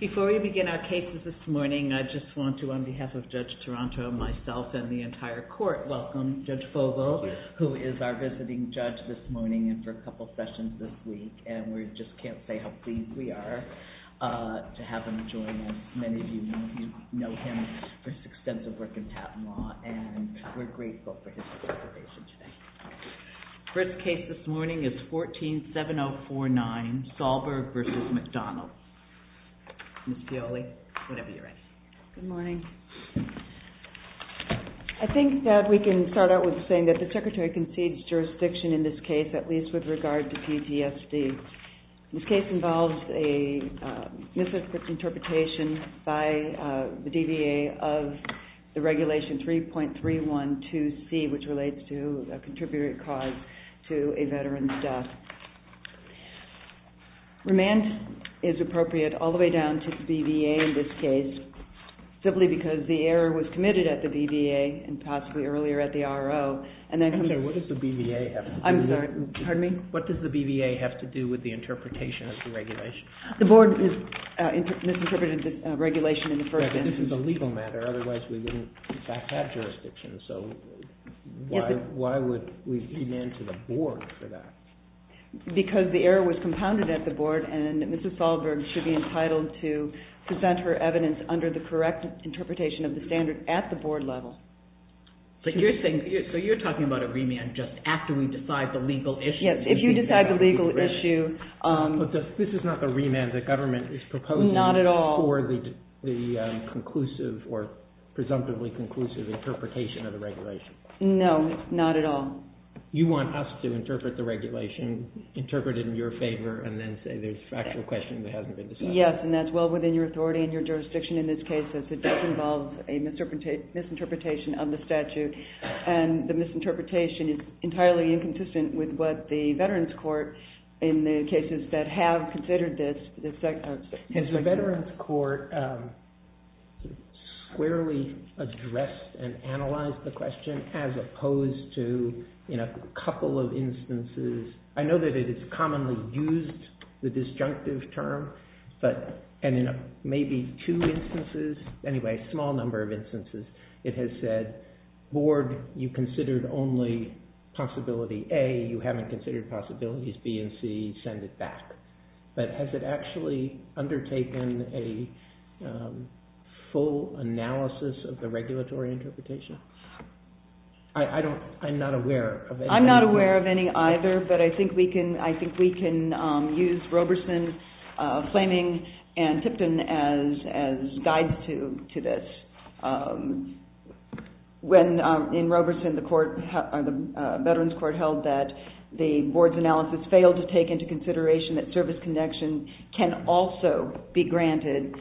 Before we begin our cases this morning, I just want to, on behalf of Judge Taranto, myself, and the entire court, welcome Judge Fogel, who is our visiting judge this morning and for a couple sessions this week. And we just can't say how pleased we are to have him join us. Many of you know him for his extensive work in patent law, and we're grateful for his participation today. The first case this morning is 147049, Sahlberg v. McDonald. Ms. Fiole, whenever you're ready. Good morning. I think that we can start out with saying that the Secretary concedes jurisdiction in this case, at least with regard to PTSD. This case involves a misinterpretation by the DVA of the Regulation 3.312C, which relates to a contributory cause to a veteran's death. Remand is appropriate all the way down to the BVA in this case, simply because the error was committed at the BVA and possibly earlier at the RO. What does the BVA have to do with the interpretation of the regulation? The board misinterpreted the regulation in the first instance. But this is a legal matter, otherwise we wouldn't in fact have jurisdiction, so why would we demand to the board for that? Because the error was compounded at the board, and Mrs. Sahlberg should be entitled to present her evidence under the correct interpretation of the standard at the board level. So you're talking about a remand just after we decide the legal issue? Yes, if you decide the legal issue. But this is not the remand the government is proposing for the presumptively conclusive interpretation of the regulation? No, not at all. You want us to interpret the regulation, interpret it in your favor, and then say there's a factual question that hasn't been decided? Yes, and that's well within your authority and your jurisdiction in this case, as it does involve a misinterpretation of the statute. And the misinterpretation is entirely inconsistent with what the Veterans Court, in the cases that have considered this, has said. Has the Veterans Court squarely addressed and analyzed the question, as opposed to in a couple of instances? I know that it is commonly used, the disjunctive term, and in maybe two instances, anyway, a small number of instances, it has said, board, you considered only possibility A, you haven't considered possibilities B and C, send it back. But has it actually undertaken a full analysis of the regulatory interpretation? I'm not aware of any. I'm not aware of any either, but I think we can use Roberson, Flaming, and Tipton as guides to this. When, in Roberson, the Veterans Court held that the board's analysis failed to take into consideration that service connection can also be granted,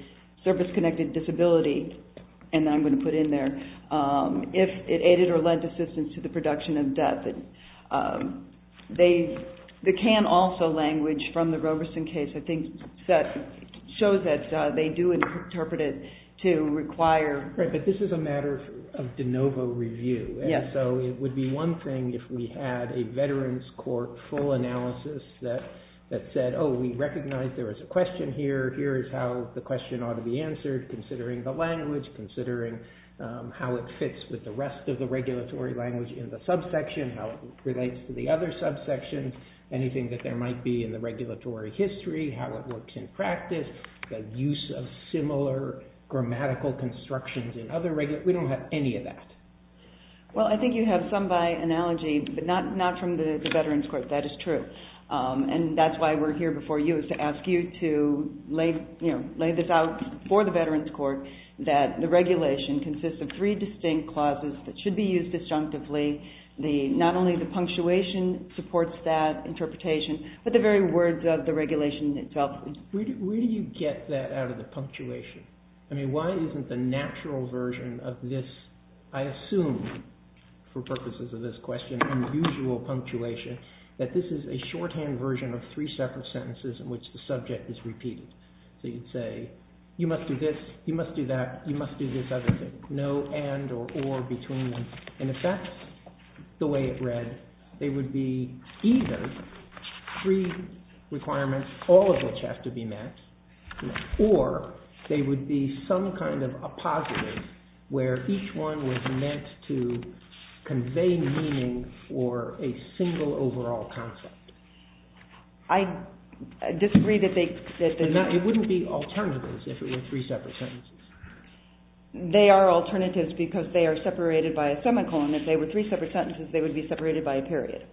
service-connected disability, and I'm going to put in there, if it aided or led to assistance to the production of debt. The can also language from the Roberson case, I think, shows that they do interpret it to require. Right, but this is a matter of de novo review. So it would be one thing if we had a Veterans Court full analysis that said, oh, we recognize there is a question here, here is how the question ought to be answered, considering the language, considering how it fits with the rest of the regulatory language in the subsection, how it relates to the other subsection, anything that there might be in the regulatory history, how it works in practice, the use of similar grammatical constructions in other, we don't have any of that. Well, I think you have some by analogy, but not from the Veterans Court, that is true. And that's why we're here before you, is to ask you to lay this out for the Veterans Court, that the regulation consists of three distinct clauses that should be used disjunctively. Not only the punctuation supports that interpretation, but the very words of the regulation itself. Where do you get that out of the punctuation? I mean, why isn't the natural version of this, I assume, for purposes of this question, unusual punctuation, that this is a shorthand version of three separate sentences in which the subject is repeated? So you'd say, you must do this, you must do that, you must do this other thing, no and or or between them. And if that's the way it read, they would be either three requirements, all of which have to be met, or they would be some kind of a positive, where each one was meant to convey meaning for a single overall concept. I disagree that they... It wouldn't be alternatives if it were three separate sentences. They are alternatives because they are separated by a semicolon. If they were three separate sentences, they would be separated by a period.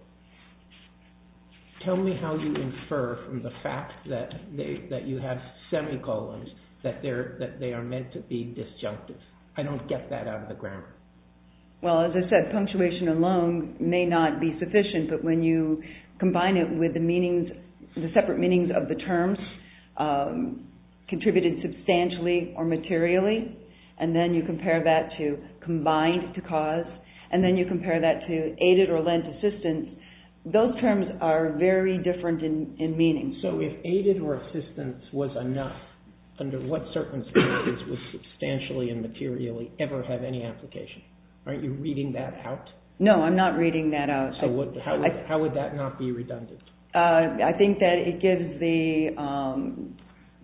Tell me how you infer from the fact that you have semicolons, that they are meant to be disjunctive. I don't get that out of the grammar. Well, as I said, punctuation alone may not be sufficient, but when you combine it with the meanings, the separate meanings of the terms, contributed substantially or materially, and then you compare that to combined to cause, and then you compare that to aided or lent assistance, those terms are very different in meaning. So if aided or assistance was enough, under what circumstances would substantially and materially ever have any application? Aren't you reading that out? No, I'm not reading that out. How would that not be redundant? I think that it gives the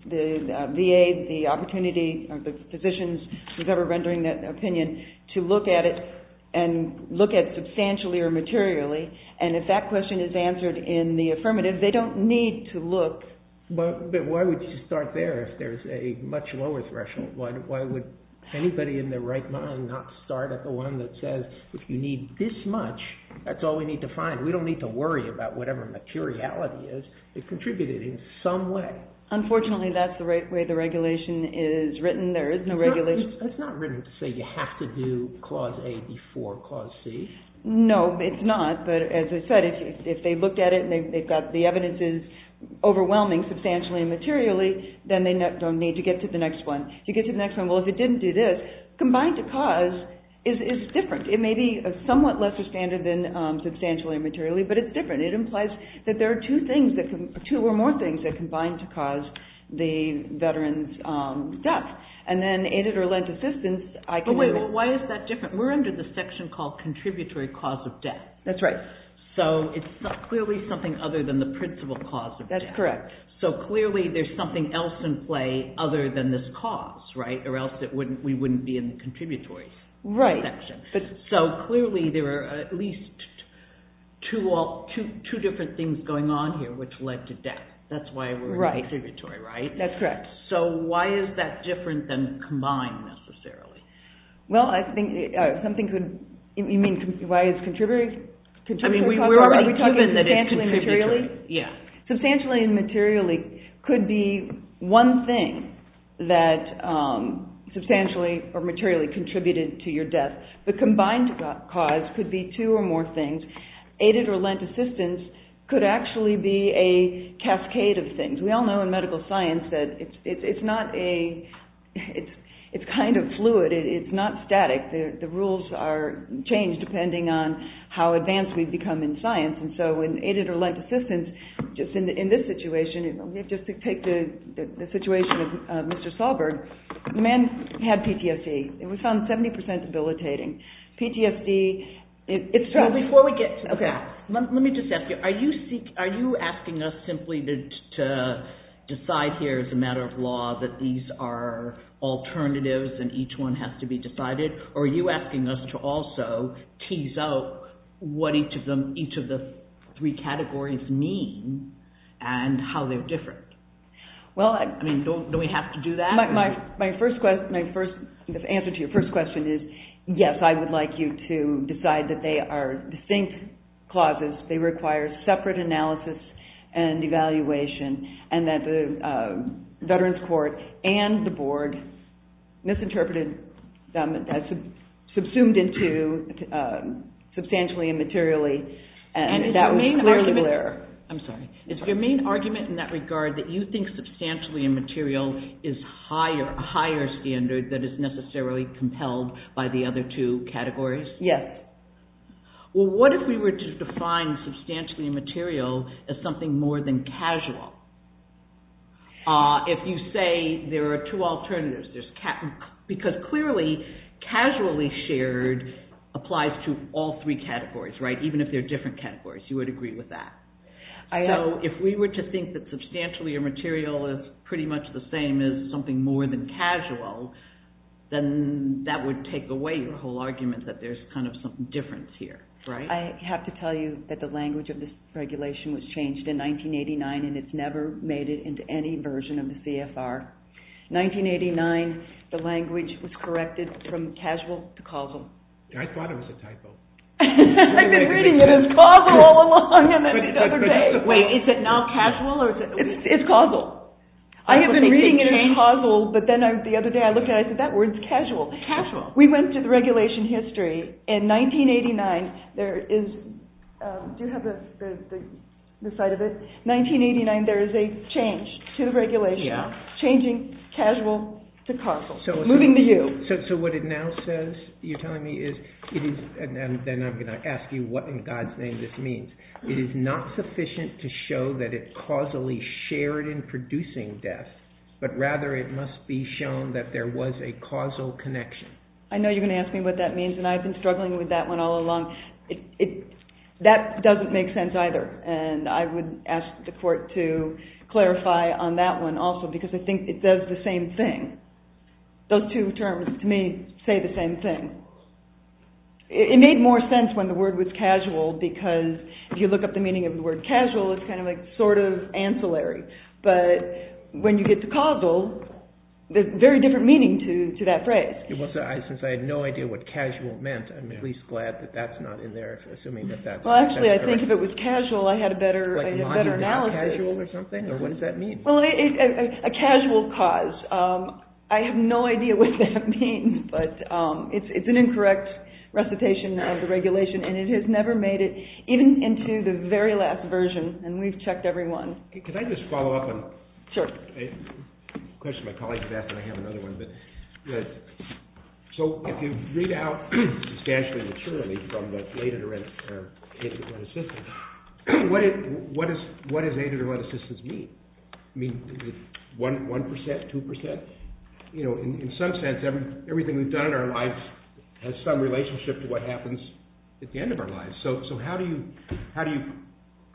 VA the opportunity, or the physicians, whoever is rendering that opinion, to look at it and look at substantially or materially, and if that question is answered in the affirmative, they don't need to look... But why would you start there if there's a much lower threshold? Why would anybody in their right mind not start at the one that says, if you need this much, that's all we need to find. We don't need to worry about whatever materiality is. It contributed in some way. Unfortunately, that's the right way the regulation is written. There is no regulation... That's not written to say you have to do Clause A before Clause C. No, it's not, but as I said, if they looked at it and they've got the evidences overwhelming substantially and materially, then they don't need to get to the next one. If you get to the next one, well, if it didn't do this, combined to cause is different. It may be a somewhat lesser standard than substantially and materially, but it's different. It implies that there are two or more things that combine to cause the veteran's death. Why is that different? We're under the section called Contributory Cause of Death. That's right. So it's clearly something other than the principal cause of death. That's correct. So clearly there's something else in play other than this cause, right? Or else we wouldn't be in the contributory section. Right. So clearly there are at least two different things going on here which led to death. That's why we're in the contributory, right? That's correct. So why is that different than combined necessarily? Well, I think something could – you mean why it's contributory? I mean, we're already proven that it's contributory. Are we talking substantially and materially? Yeah. Substantially and materially could be one thing that substantially or materially contributed to your death. The combined cause could be two or more things. Aided or lent assistance could actually be a cascade of things. We all know in medical science that it's not a – it's kind of fluid. It's not static. The rules are changed depending on how advanced we've become in science. And so in aided or lent assistance, just in this situation, just to take the situation of Mr. Sahlberg, the man had PTSD. It was found 70% debilitating. PTSD – Before we get to that, let me just ask you, are you asking us simply to decide here as a matter of law that these are alternatives and each one has to be decided? Or are you asking us to also tease out what each of the three categories mean and how they're different? Well – I mean, do we have to do that? My first – the answer to your first question is yes, I would like you to decide that they are distinct clauses. They require separate analysis and evaluation and that the Veterans Court and the Board misinterpreted – subsumed into substantially and materially. Is your main argument in that regard that you think substantially and material is a higher standard that is necessarily compelled by the other two categories? Yes. Well, what if we were to define substantially and material as something more than casual? If you say there are two alternatives, there's – because clearly, casually shared applies to all three categories, right? Even if they're different categories, you would agree with that. So, if we were to think that substantially and material is pretty much the same as something more than casual, then that would take away your whole argument that there's kind of some difference here, right? I have to tell you that the language of this regulation was changed in 1989 and it's never made it into any version of the CFR. 1989, the language was corrected from casual to causal. I thought it was a typo. I've been reading it as causal all along and then the other day – Wait, is it now casual or – It's causal. I have been reading it as causal, but then the other day I looked at it and I said, that word's casual. Casual. We went through the regulation history. In 1989, there is – do you have the site of it? 1989, there is a change to the regulation, changing casual to causal. Moving to you. So, what it now says, you're telling me, is – and then I'm going to ask you what in God's name this means. It is not sufficient to show that it causally shared in producing death, but rather it must be shown that there was a causal connection. I know you're going to ask me what that means and I've been struggling with that one all along. That doesn't make sense either and I would ask the court to clarify on that one also because I think it does the same thing. Those two terms, to me, say the same thing. It made more sense when the word was casual because if you look up the meaning of the word casual, it's kind of like sort of ancillary. But when you get to causal, there's very different meaning to that phrase. Since I had no idea what casual meant, I'm at least glad that that's not in there, assuming that that's – Well, actually, I think if it was casual, I had a better analysis. Like lying about casual or something, or what does that mean? Well, a casual cause. I have no idea what that means, but it's an incorrect recitation of the regulation and it has never made it even into the very last version and we've checked every one. Can I just follow up on a question my colleague asked and I have another one? So if you read out substantially and maturely from the aided or unassisted, what does aided or unassisted mean? One percent, two percent? In some sense, everything we've done in our lives has some relationship to what happens at the end of our lives. So how do you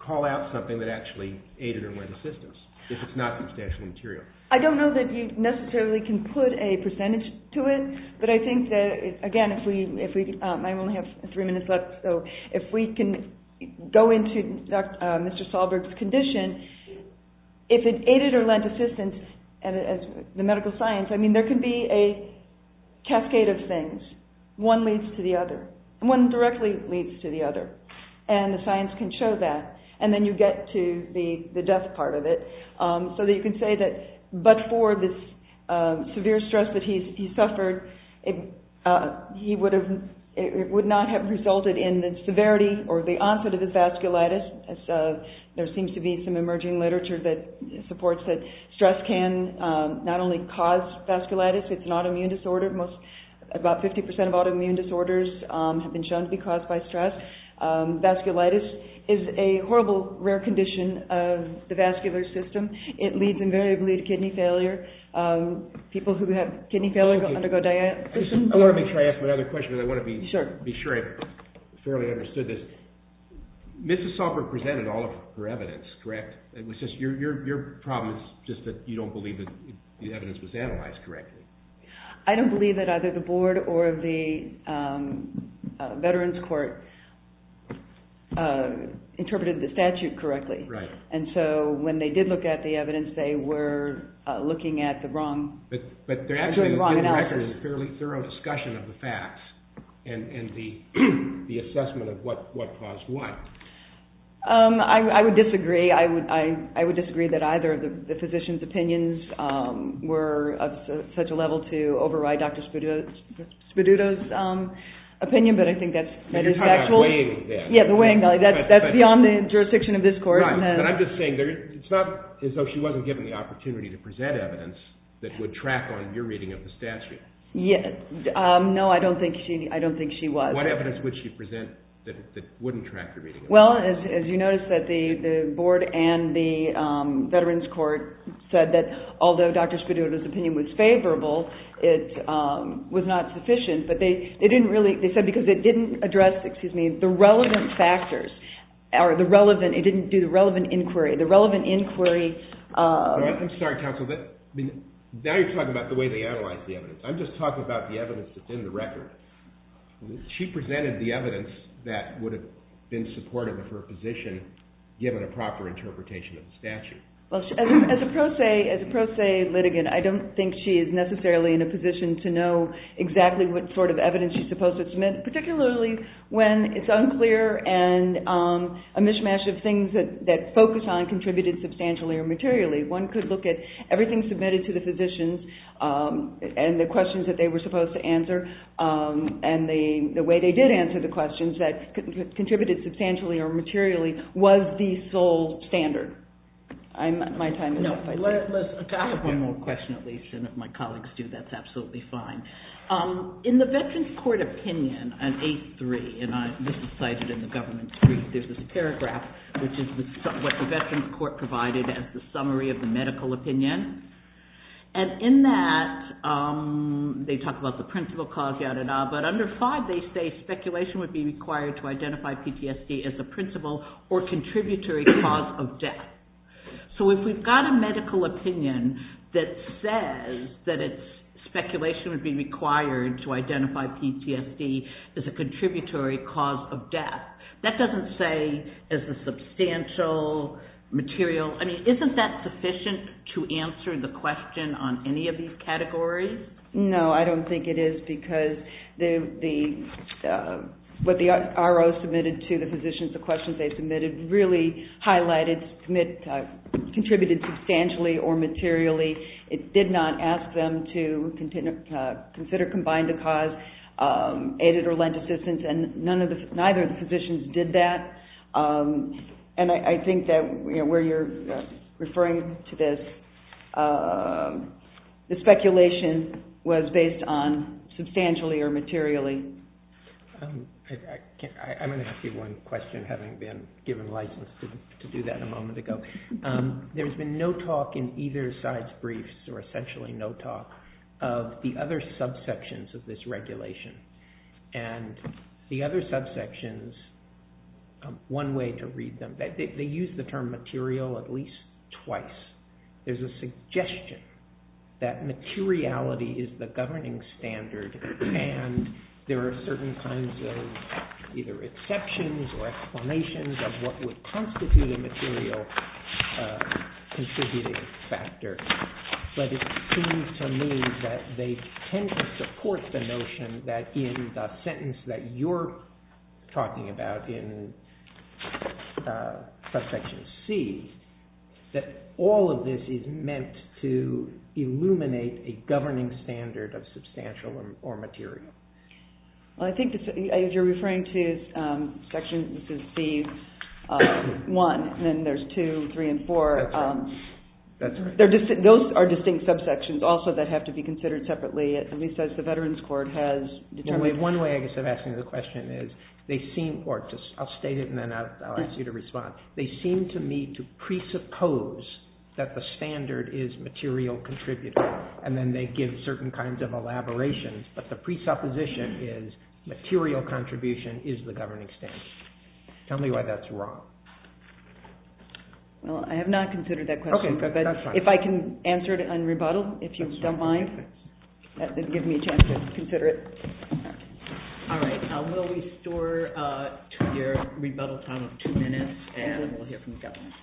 call out something that actually aided or unassisted if it's not substantial material? I don't know that you necessarily can put a percentage to it, but I think that, again, if we – I only have three minutes left, so if we can go into Mr. Solberg's condition, if it aided or unassisted, the medical science, I mean, there can be a cascade of things. One leads to the other. One directly leads to the other. And the science can show that. And then you get to the death part of it. So you can say that, but for this severe stress that he suffered, it would not have resulted in the severity or the onset of his vasculitis. There seems to be some emerging literature that supports that stress can not only cause vasculitis, it's an autoimmune disorder. About 50 percent of autoimmune disorders have been shown to be caused by stress. Vasculitis is a horrible, rare condition of the vascular system. It leads invariably to kidney failure. People who have kidney failure undergo dialysis. I want to make sure I ask my other question because I want to be sure I've thoroughly understood this. Mrs. Solberg presented all of her evidence, correct? Your problem is just that you don't believe that the evidence was analyzed correctly. I don't believe that either the Board or the Veterans Court interpreted the statute correctly. And so when they did look at the evidence, they were looking at the wrong analysis. But there actually is a fairly thorough discussion of the facts and the assessment of what caused what. I would disagree. I would disagree that either of the physicians' opinions were of such a level to override Dr. Spaduto's opinion, but I think that's metastatical. You're talking about weighing this. Yeah, the weighing. That's beyond the jurisdiction of this Court. But I'm just saying it's not as though she wasn't given the opportunity to present evidence that would track on your reading of the statute. No, I don't think she was. What evidence would she present that wouldn't track your reading of the statute? Well, as you notice, the Board and the Veterans Court said that although Dr. Spaduto's opinion was favorable, it was not sufficient. They said because it didn't address the relevant factors. It didn't do the relevant inquiry. I'm sorry, counsel. Now you're talking about the way they analyzed the evidence. I'm just talking about the evidence that's in the record. She presented the evidence that would have been supportive of her position given a proper interpretation of the statute. As a pro se litigant, I don't think she is necessarily in a position to know exactly what sort of evidence she's supposed to submit, particularly when it's unclear and a mishmash of things that focus on contributed substantially or materially. One could look at everything submitted to the physicians and the questions that they were supposed to answer and the way they did answer the questions that contributed substantially or materially was the sole standard. My time is up. I have one more question, at least, and if my colleagues do, that's absolutely fine. In the Veterans Court opinion on 8-3, and this is cited in the government brief, there's this paragraph which is what the Veterans Court provided as the summary of the medical opinion. In that, they talk about the principal cause, but under 5, they say speculation would be required to identify PTSD as a principal or contributory cause of death. So if we've got a medical opinion that says that speculation would be required to identify PTSD as a contributory cause of death, that doesn't say as a substantial material. I mean, isn't that sufficient to answer the question on any of these categories? No, I don't think it is because what the RO submitted to the physicians, the questions they submitted, really highlighted contributed substantially or materially. It did not ask them to consider combined cause, aided or lent assistance, and neither of the physicians did that. And I think that where you're referring to this, the speculation was based on substantially or materially. I'm going to ask you one question, having been given license to do that a moment ago. There's been no talk in either side's briefs, or essentially no talk, of the other subsections of this regulation. And the other subsections, one way to read them, they use the term material at least twice. There's a suggestion that materiality is the governing standard, and there are certain kinds of either exceptions or explanations of what would constitute a material contributing factor. But it seems to me that they tend to support the notion that in the sentence that you're talking about in subsection C, that all of this is meant to illuminate a governing standard of substantial or material. I think what you're referring to is section C1, and then there's 2, 3, and 4. Those are distinct subsections also that have to be considered separately, at least as the Veterans Court has determined. One way I guess of asking the question is, or I'll state it and then I'll ask you to respond. They seem to me to presuppose that the standard is material contributing, and then they give certain kinds of elaborations. But the presupposition is material contribution is the governing standard. Tell me why that's wrong. Well, I have not considered that question. Okay, that's fine. If I can answer it on rebuttal, if you don't mind, that would give me a chance to consider it. All right. We'll restore to your rebuttal time of two minutes, and then we'll hear from the government.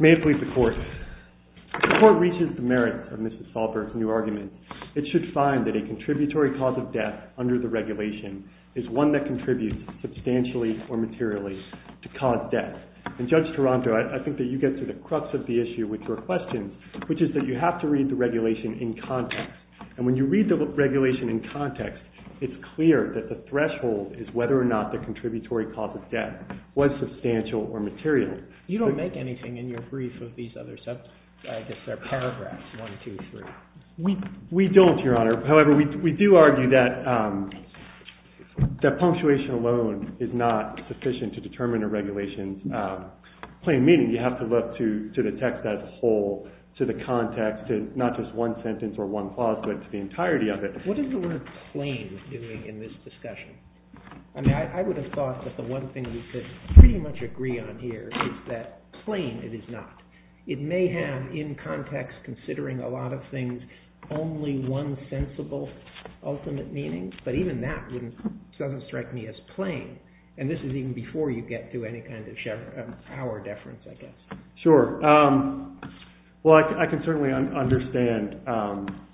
May it please the Court. If the Court reaches the merits of Mrs. Sahlberg's new argument, it should find that a contributory cause of death under the regulation is one that contributes substantially or materially to cause death. And Judge Taranto, I think that you get to the crux of the issue with your question, which is that you have to read the regulation in context. And when you read the regulation in context, it's clear that the threshold is whether or not the contributory cause of death was substantial or material. You don't make anything in your brief of these other paragraphs, one, two, three. We don't, Your Honor. However, we do argue that punctuation alone is not sufficient to determine a regulation's plain meaning. You have to look to the text as a whole, to the context, to not just one sentence or one clause, but to the entirety of it. What is the word plain doing in this discussion? I mean, I would have thought that the one thing we could pretty much agree on here is that plain it is not. It may have, in context, considering a lot of things, only one sensible ultimate meaning. But even that doesn't strike me as plain. And this is even before you get to any kind of power deference, I guess. Sure. Well, I can certainly understand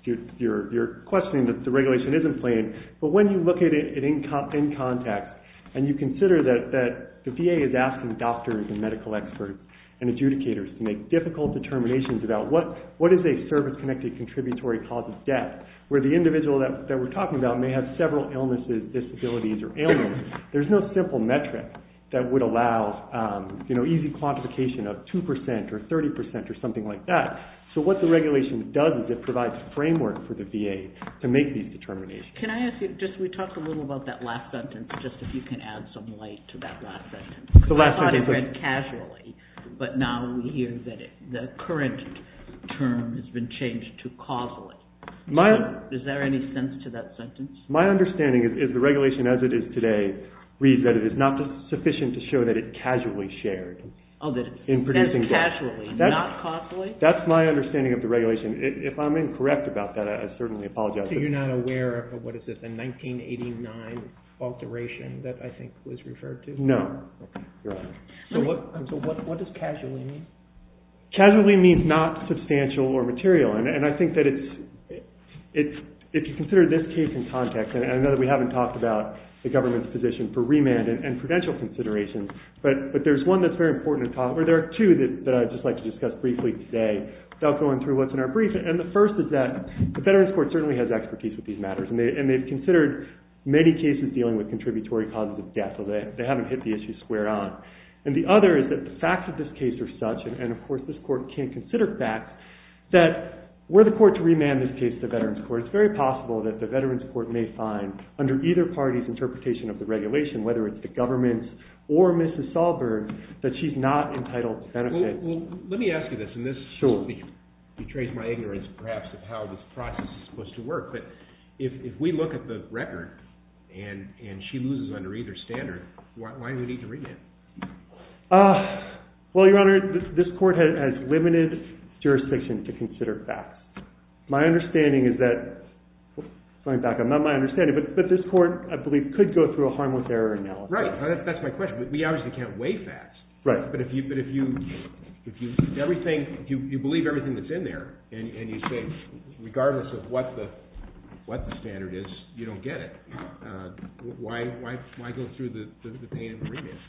your questioning that the regulation isn't plain. But when you look at it in context and you consider that the VA is asking doctors and medical experts and adjudicators to make difficult determinations about what is a service-connected contributory cause of death, where the individual that we're talking about may have several illnesses, disabilities, or ailments, there's no simple metric that would allow easy quantification of 2% or 30% or something like that. So what the regulation does is it provides a framework for the VA to make these determinations. Can I ask you, just we talked a little about that last sentence, just if you can add some light to that last sentence. I thought it read casually, but now we hear that the current term has been changed to causally. Is there any sense to that sentence? My understanding is the regulation as it is today reads that it is not sufficient to show that it casually shared. Oh, that it says casually, not causally? That's my understanding of the regulation. If I'm incorrect about that, I certainly apologize. So you're not aware of the 1989 alteration that I think was referred to? No. So what does casually mean? Casually means not substantial or material. And I think that if you consider this case in context, and I know that we haven't talked about the government's position for remand and prudential considerations, but there's one that's very important, or there are two that I'd just like to discuss briefly today without going through what's in our brief. And the first is that the Veterans Court certainly has expertise with these matters, and they've considered many cases dealing with contributory causes of death, so they haven't hit the issue square on. And the other is that the facts of this case are such, and of course this court can't consider facts, that were the court to remand this case to the Veterans Court, it's very possible that the Veterans Court may find, under either party's interpretation of the regulation, whether it's the government's or Mrs. Sahlberg's, that she's not entitled to benefit. Well, let me ask you this, and this betrays my ignorance perhaps of how this process is supposed to work, but if we look at the record and she loses under either standard, why do we need to remand? Well, Your Honor, this court has limited jurisdiction to consider facts. My understanding is that this court, I believe, could go through a harmless error analysis. Right, that's my question, but we obviously can't weigh facts. But if you believe everything that's in there, and you say, regardless of what the standard is, you don't get it, why go through the pain of remand?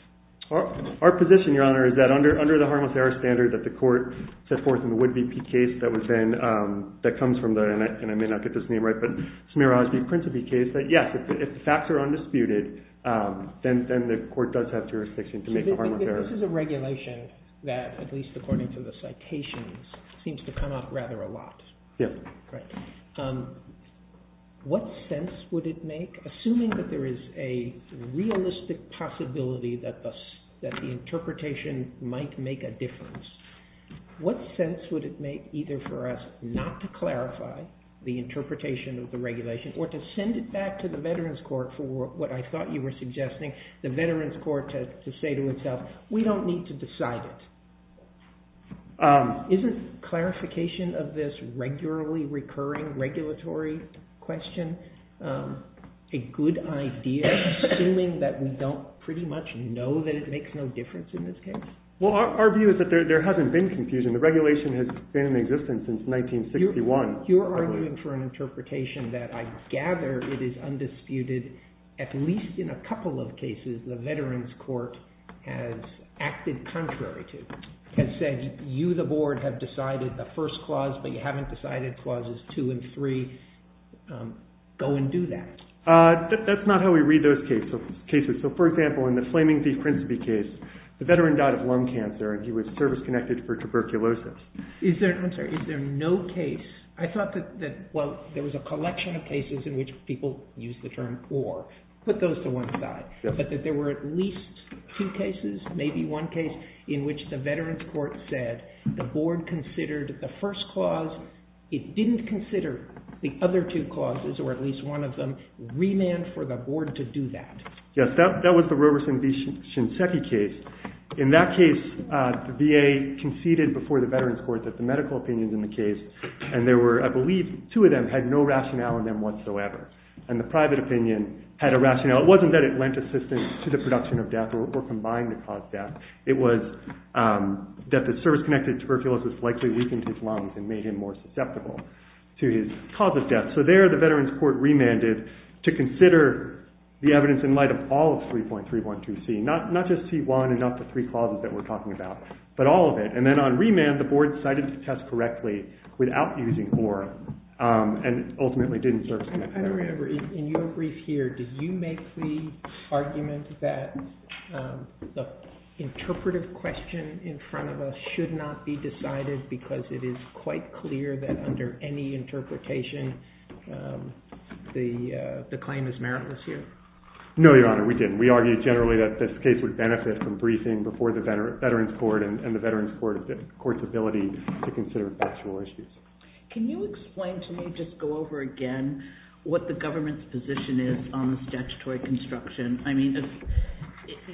Our position, Your Honor, is that under the harmless error standard that the court set forth in the Wood v. Peay case that comes from the, and I may not get this name right, but Smirnoff v. Prince v. Peay case, that yes, if the facts are undisputed, then the court does have jurisdiction to make a harmless error. This is a regulation that, at least according to the citations, seems to come up rather a lot. Yeah. What sense would it make, assuming that there is a realistic possibility that the interpretation might make a difference, what sense would it make either for us not to clarify the interpretation of the regulation or to send it back to the veterans court for what I thought you were suggesting, the veterans court to say to itself, we don't need to decide it. Isn't clarification of this regularly recurring regulatory question a good idea, assuming that we don't pretty much know that it makes no difference in this case? Well, our view is that there hasn't been confusion. The regulation has been in existence since 1961. You're arguing for an interpretation that I gather it is undisputed at least in a couple of cases the veterans court has acted contrary to, has said you, the board, have decided the first clause, but you haven't decided clauses two and three. Go and do that. That's not how we read those cases. So, for example, in the Flaming Thief Prisby case, the veteran died of lung cancer, and he was service-connected for tuberculosis. I'm sorry. Is there no case? I thought that, well, there was a collection of cases in which people used the term or. Put those to one side. But that there were at least two cases, maybe one case, in which the veterans court said the board considered the first clause. It didn't consider the other two clauses, or at least one of them, remand for the board to do that. Yes, that was the Roberson v. Shinseki case. In that case, the VA conceded before the veterans court that the medical opinions in the case, and there were, I believe, two of them had no rationale in them whatsoever. And the private opinion had a rationale. It wasn't that it lent assistance to the production of death or combined to cause death. It was that the service-connected tuberculosis likely weakened his lungs and made him more susceptible to his cause of death. So there the veterans court remanded to consider the evidence in light of all of 3.312C, not just C1 and not the three clauses that we're talking about, but all of it. And then on remand, the board decided to test correctly without using ORAL and ultimately didn't service-connect that. I don't remember, in your brief here, did you make the argument that the interpretive question in front of us should not be decided because it is quite clear that under any interpretation the claim is meritless here? No, Your Honor, we didn't. We argued generally that this case would benefit from briefing before the veterans court and the veterans court's ability to consider factual issues. Can you explain to me, just go over again, what the government's position is on the statutory construction? I mean,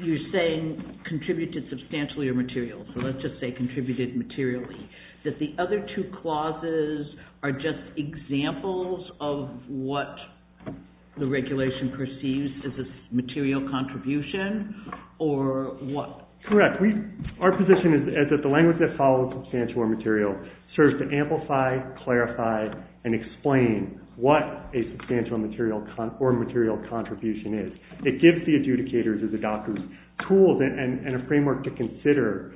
you're saying contributed substantially or materially, so let's just say contributed materially. The other two clauses are just examples of what the regulation perceives as a material contribution or what? Correct. Our position is that the language that follows substantial or material serves to amplify, clarify, and explain what a substantial or material contribution is. It gives the adjudicators and the doctors tools and a framework to consider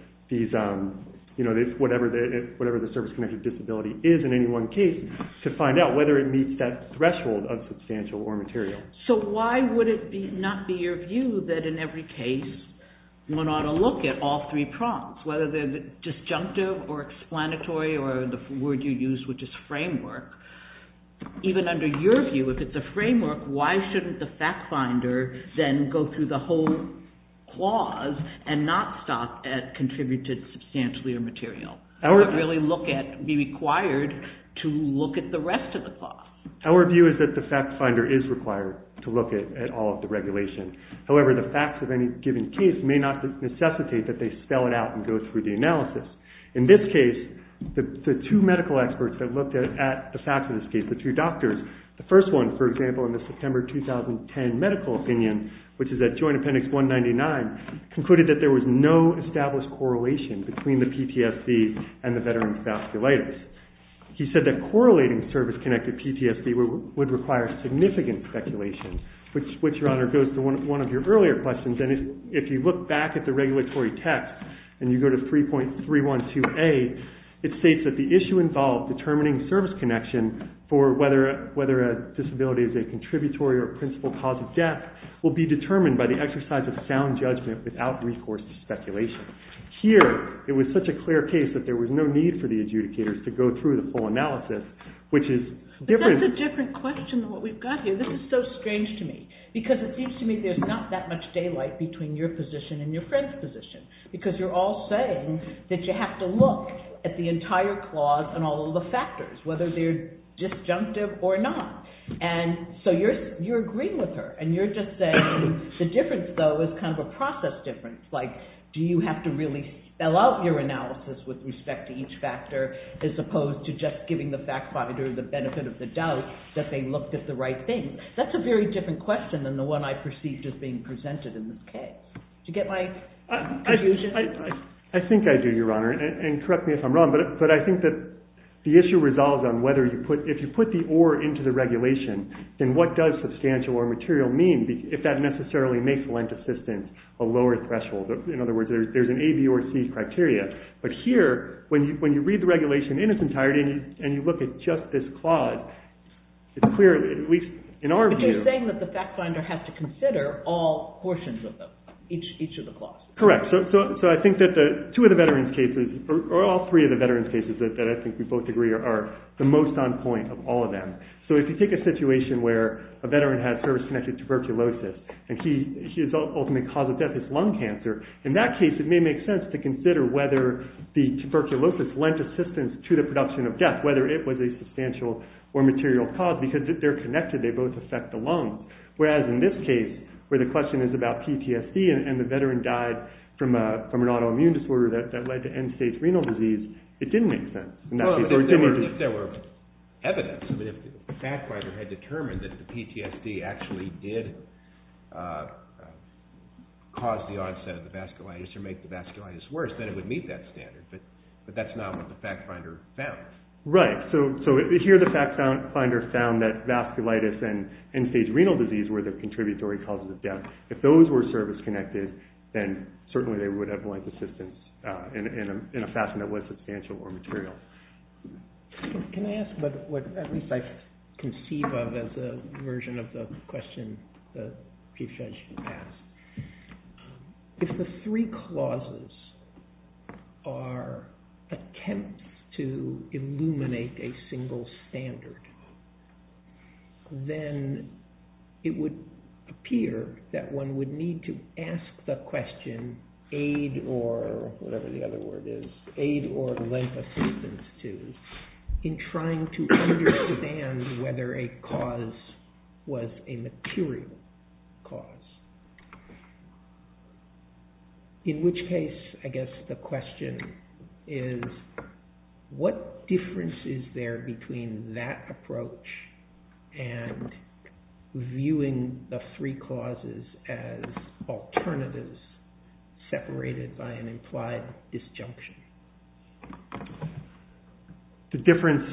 whatever the service-connected disability is in any one case to find out whether it meets that threshold of substantial or material. So why would it not be your view that in every case one ought to look at all three prongs, whether they're disjunctive or explanatory or the word you used, which is framework. Even under your view, if it's a framework, why shouldn't the fact finder then go through the whole clause and not stop at contributed substantially or material, but really look at, be required to look at the rest of the clause? Our view is that the fact finder is required to look at all of the regulation. However, the facts of any given case may not necessitate that they spell it out and go through the analysis. In this case, the two medical experts that looked at the facts of this case, the two doctors, the first one, for example, in the September 2010 medical opinion, which is at Joint Appendix 199, concluded that there was no established correlation between the PTSD and the veteran's vasculitis. He said that correlating service-connected PTSD would require significant speculation, which, Your Honor, goes to one of your earlier questions. If you look back at the regulatory text and you go to 3.312A, it states that the issue involved determining service connection for whether a disability is a contributory or principal cause of death will be determined by the exercise of sound judgment without recourse to speculation. Here, it was such a clear case that there was no need for the adjudicators to go through the full analysis, which is different... But that's a different question than what we've got here. This is so strange to me, because it seems to me there's not that much daylight between your position and your friend's position, because you're all saying that you have to look at the entire clause and all of the factors, whether they're disjunctive or not. And so you're agreeing with her, and you're just saying the difference, though, is kind of a process difference. Like, do you have to really spell out your analysis with respect to each factor as opposed to just giving the fact finder the benefit of the doubt that they looked at the right thing? That's a very different question than the one I perceived as being presented in this case. Did you get my confusion? I think I do, Your Honor, and correct me if I'm wrong, but I think that the issue resolves on whether you put... If you put the or into the regulation, then what does substantial or material mean if that necessarily makes lent assistance a lower threshold? In other words, there's an A, B, or C criteria. But here, when you read the regulation in its entirety and you look at just this clause, it's clear, at least in our view... But you're saying that the fact finder has to consider all portions of them, each of the clauses. Correct. So I think that two of the veterans' cases, or all three of the veterans' cases that I think we both agree are the most on point of all of them. So if you take a situation where a veteran has service-connected tuberculosis and his ultimate cause of death is lung cancer, in that case it may make sense to consider whether the tuberculosis lent assistance to the production of death, whether it was a substantial or material cause, because if they're connected, they both affect the lungs. Whereas in this case, where the question is about PTSD and the veteran died from an autoimmune disorder that led to end-stage renal disease, it didn't make sense. Well, if there were evidence, I mean, if the fact finder had determined that the PTSD actually did cause the onset of the vasculitis or make the vasculitis worse, then it would meet that standard, but that's not what the fact finder found. Right. So here the fact finder found that vasculitis and end-stage renal disease were the contributory causes of death. If those were service-connected, then certainly they would have lent assistance in a fashion that was substantial or material. Can I ask what, at least, I conceive of as a version of the question that the judge asked? If the three clauses are attempts to illuminate a single standard, then it would appear that one would need to ask the question, in aid or, whatever the other word is, aid or lent assistance to, in trying to understand whether a cause was a material cause. In which case, I guess the question is, what difference is there between that approach and viewing the three clauses as alternatives separated by an implied disjunction? The difference,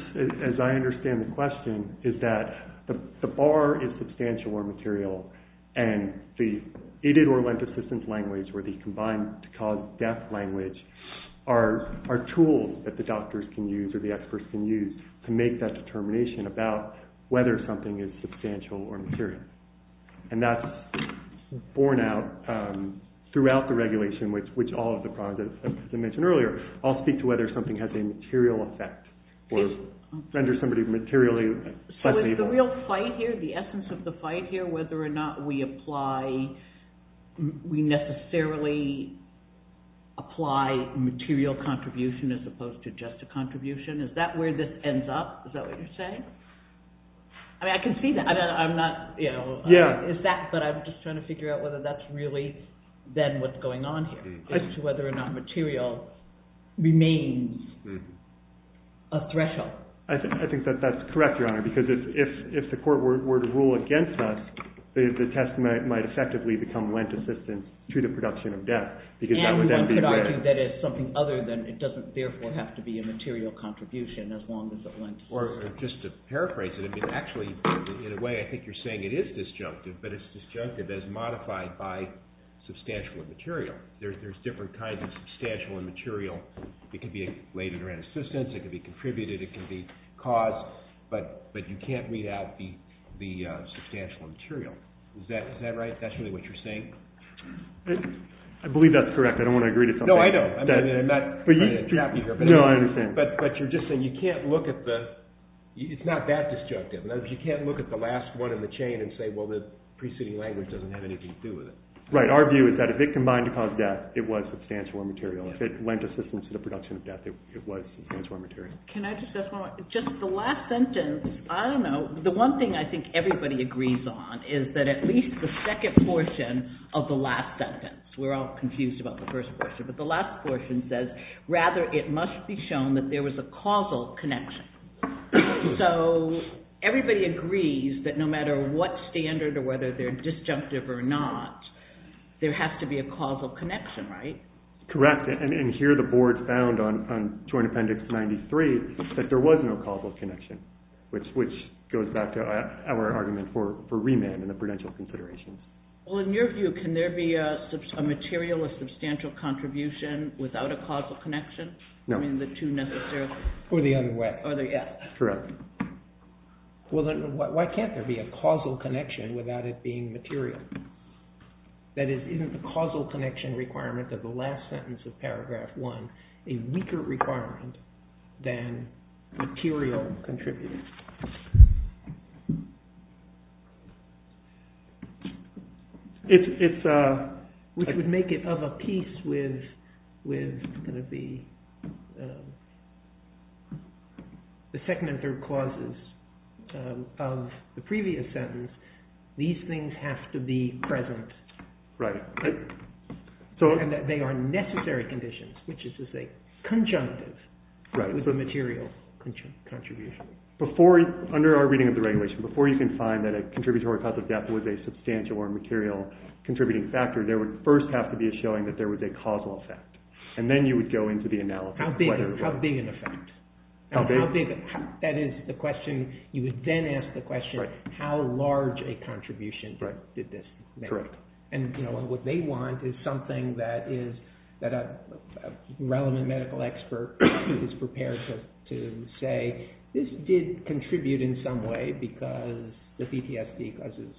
as I understand the question, is that the bar is substantial or material, and the aided or lent assistance language or the combined-to-cause-death language are tools that the doctors can use or the experts can use to make that determination about whether something is substantial or material. And that's borne out throughout the regulation, which all of the problems, as I mentioned earlier, all speak to whether something has a material effect or renders somebody materially less able. So is the real fight here, the essence of the fight here, whether or not we apply, we necessarily apply material contribution as opposed to just a contribution? Is that where this ends up? Is that what you're saying? I mean, I can see that. I'm not, you know... Yeah. But I'm just trying to figure out whether that's really then what's going on here, as to whether or not material remains a threshold. I think that that's correct, Your Honor, because if the court were to rule against us, the test might effectively become lent assistance to the production of death, because that would then be rare. I'm thinking that it's something other than it doesn't therefore have to be a material contribution, as long as it went through. Or just to paraphrase it, I mean, actually, in a way, I think you're saying it is disjunctive, but it's disjunctive as modified by substantial and material. There's different kinds of substantial and material. It could be related around assistance, it could be contributed, it could be caused, but you can't read out the substantial and material. Is that right? That's really what you're saying? I believe that's correct. I don't want to agree to something. No, I know. I'm not trying to trap you here. No, I understand. But you're just saying you can't look at the... it's not that disjunctive. In other words, you can't look at the last one in the chain and say, well, the preceding language doesn't have anything to do with it. Right. Our view is that if it combined to cause death, it was substantial and material. If it lent assistance to the production of death, it was substantial and material. Can I just ask one more? Just the last sentence, I don't know, the one thing I think everybody agrees on is that at least the second portion of the last sentence, we're all confused about the first portion, but the last portion says, rather it must be shown that there was a causal connection. So everybody agrees that no matter what standard or whether they're disjunctive or not, there has to be a causal connection, right? Correct, and here the board found on Joint Appendix 93 that there was no causal connection, which goes back to our argument for remand and the prudential considerations. Well, in your view, can there be a material or substantial contribution without a causal connection? No. I mean, the two necessarily. Or the other way. Or the, yeah. Correct. Well, then why can't there be a causal connection without it being material? That is, isn't the causal connection requirement of the last sentence of Paragraph 1 a weaker requirement than material contribution? It's a… Which would make it of a piece with the second and third clauses of the previous sentence, these things have to be present. Right. And that they are necessary conditions, which is to say conjunctive with a material contribution. Before, under our reading of the regulation, before you can find that a contributory cause of death was a substantial or material contributing factor, there would first have to be a showing that there was a causal effect. And then you would go into the analysis. How big an effect? How big? That is the question. You would then ask the question, how large a contribution did this make? Correct. And what they want is something that a relevant medical expert is prepared to say, this did contribute in some way because the PTSD causes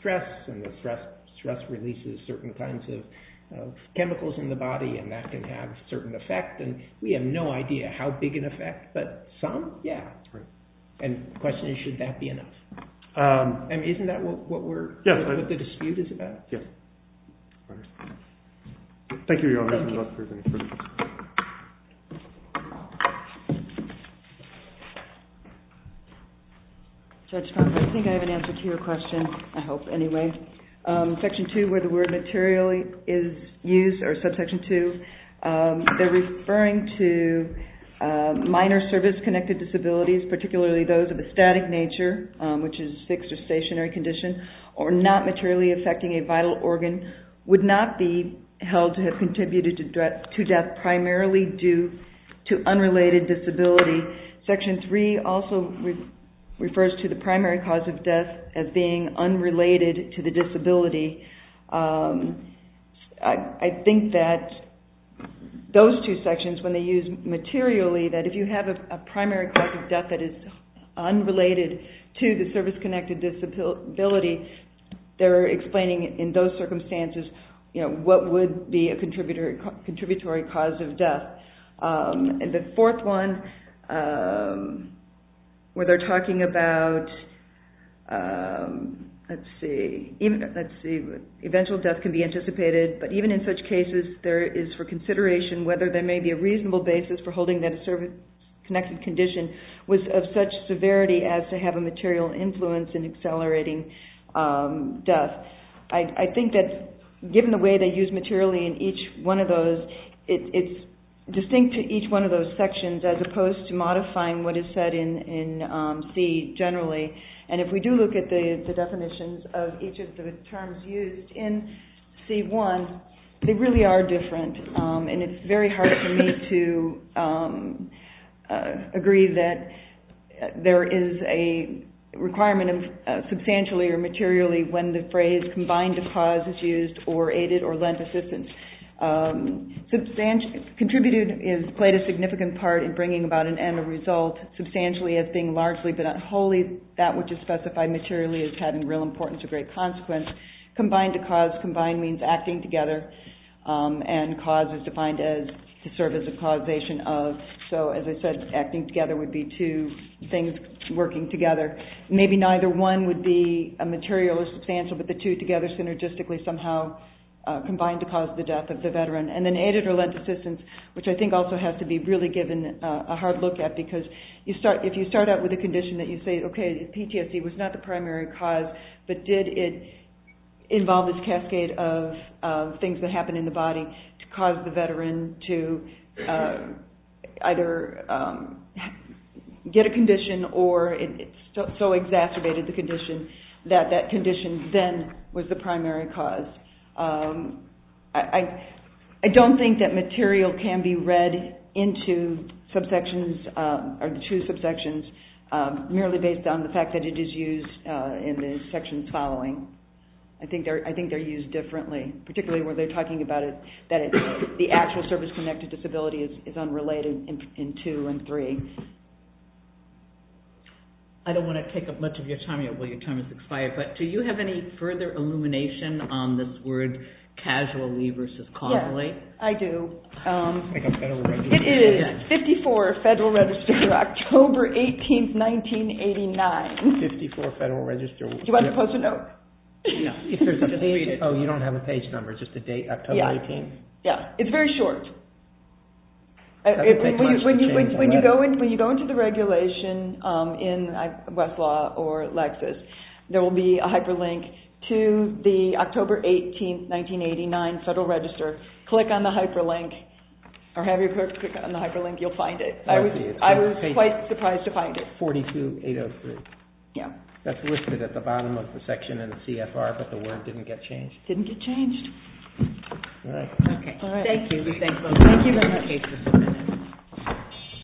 stress and the stress releases certain kinds of chemicals in the body and that can have certain effect. And we have no idea how big an effect, but some, yeah. Right. And the question is, should that be enough? And isn't that what the dispute is about? Yes. Thank you, Your Honor. Thank you. Judge Farber, I think I have an answer to your question, I hope anyway. Section 2, where the word materially is used, or subsection 2, they are referring to minor service-connected disabilities, particularly those of a static nature, which is fixed or stationary condition, or not materially affecting a vital organ, would not be held to have contributed to death primarily due to unrelated disability. Section 3 also refers to the primary cause of death as being unrelated to the disability. I think that those two sections, when they use materially, that if you have a primary cause of death that is unrelated to the service-connected disability, they're explaining in those circumstances what would be a contributory cause of death. And the fourth one, where they're talking about, let's see, eventual death can be anticipated, but even in such cases, there is for consideration whether there may be a reasonable basis for holding that a service-connected condition was of such severity as to have a material influence in accelerating death. I think that given the way they use materially in each one of those, it's distinct to each one of those sections as opposed to modifying what is said in C generally. And if we do look at the definitions of each of the terms used in C1, they really are different. And it's very hard for me to agree that there is a requirement of substantially or materially when the phrase combined to cause is used or aided or lent assistance. Contributed has played a significant part in bringing about an end result, substantially as being largely but not wholly that which is specified materially as having real importance or great consequence. Combined to cause. Combined means acting together. And cause is defined to serve as a causation of. So, as I said, acting together would be two things working together. Maybe neither one would be materially substantial, but the two together synergistically somehow combine to cause the death of the veteran. And then aided or lent assistance, which I think also has to be really given a hard look at because if you start out with a condition that you say, okay, PTSD was not the primary cause, but did it involve this cascade of things that happen in the body to cause the veteran to either get a condition or it so exacerbated the condition that that condition then was the primary cause. I don't think that material can be read into subsections or to subsections merely based on the fact that it is used in the sections following. I think they're used differently, particularly when they're talking about it, that the actual service-connected disability is unrelated in two and three. I don't want to take up much of your time yet while your time has expired, but do you have any further illumination on this word casually versus causally? Yes, I do. It is 54 Federal Register, October 18th, 1989. 54 Federal Register. Do you want to post a note? No. Oh, you don't have a page number, just a date, October 18th? Yeah, it's very short. When you go into the regulation in Westlaw or Lexis, there will be a hyperlink to the October 18th, 1989 Federal Register. Click on the hyperlink or have your clerk click on the hyperlink. You'll find it. I was quite surprised to find it. 42803. Yeah. That's listed at the bottom of the section in the CFR, but the word didn't get changed. Didn't get changed. All right. Okay. All right. Thank you. Thank you very much.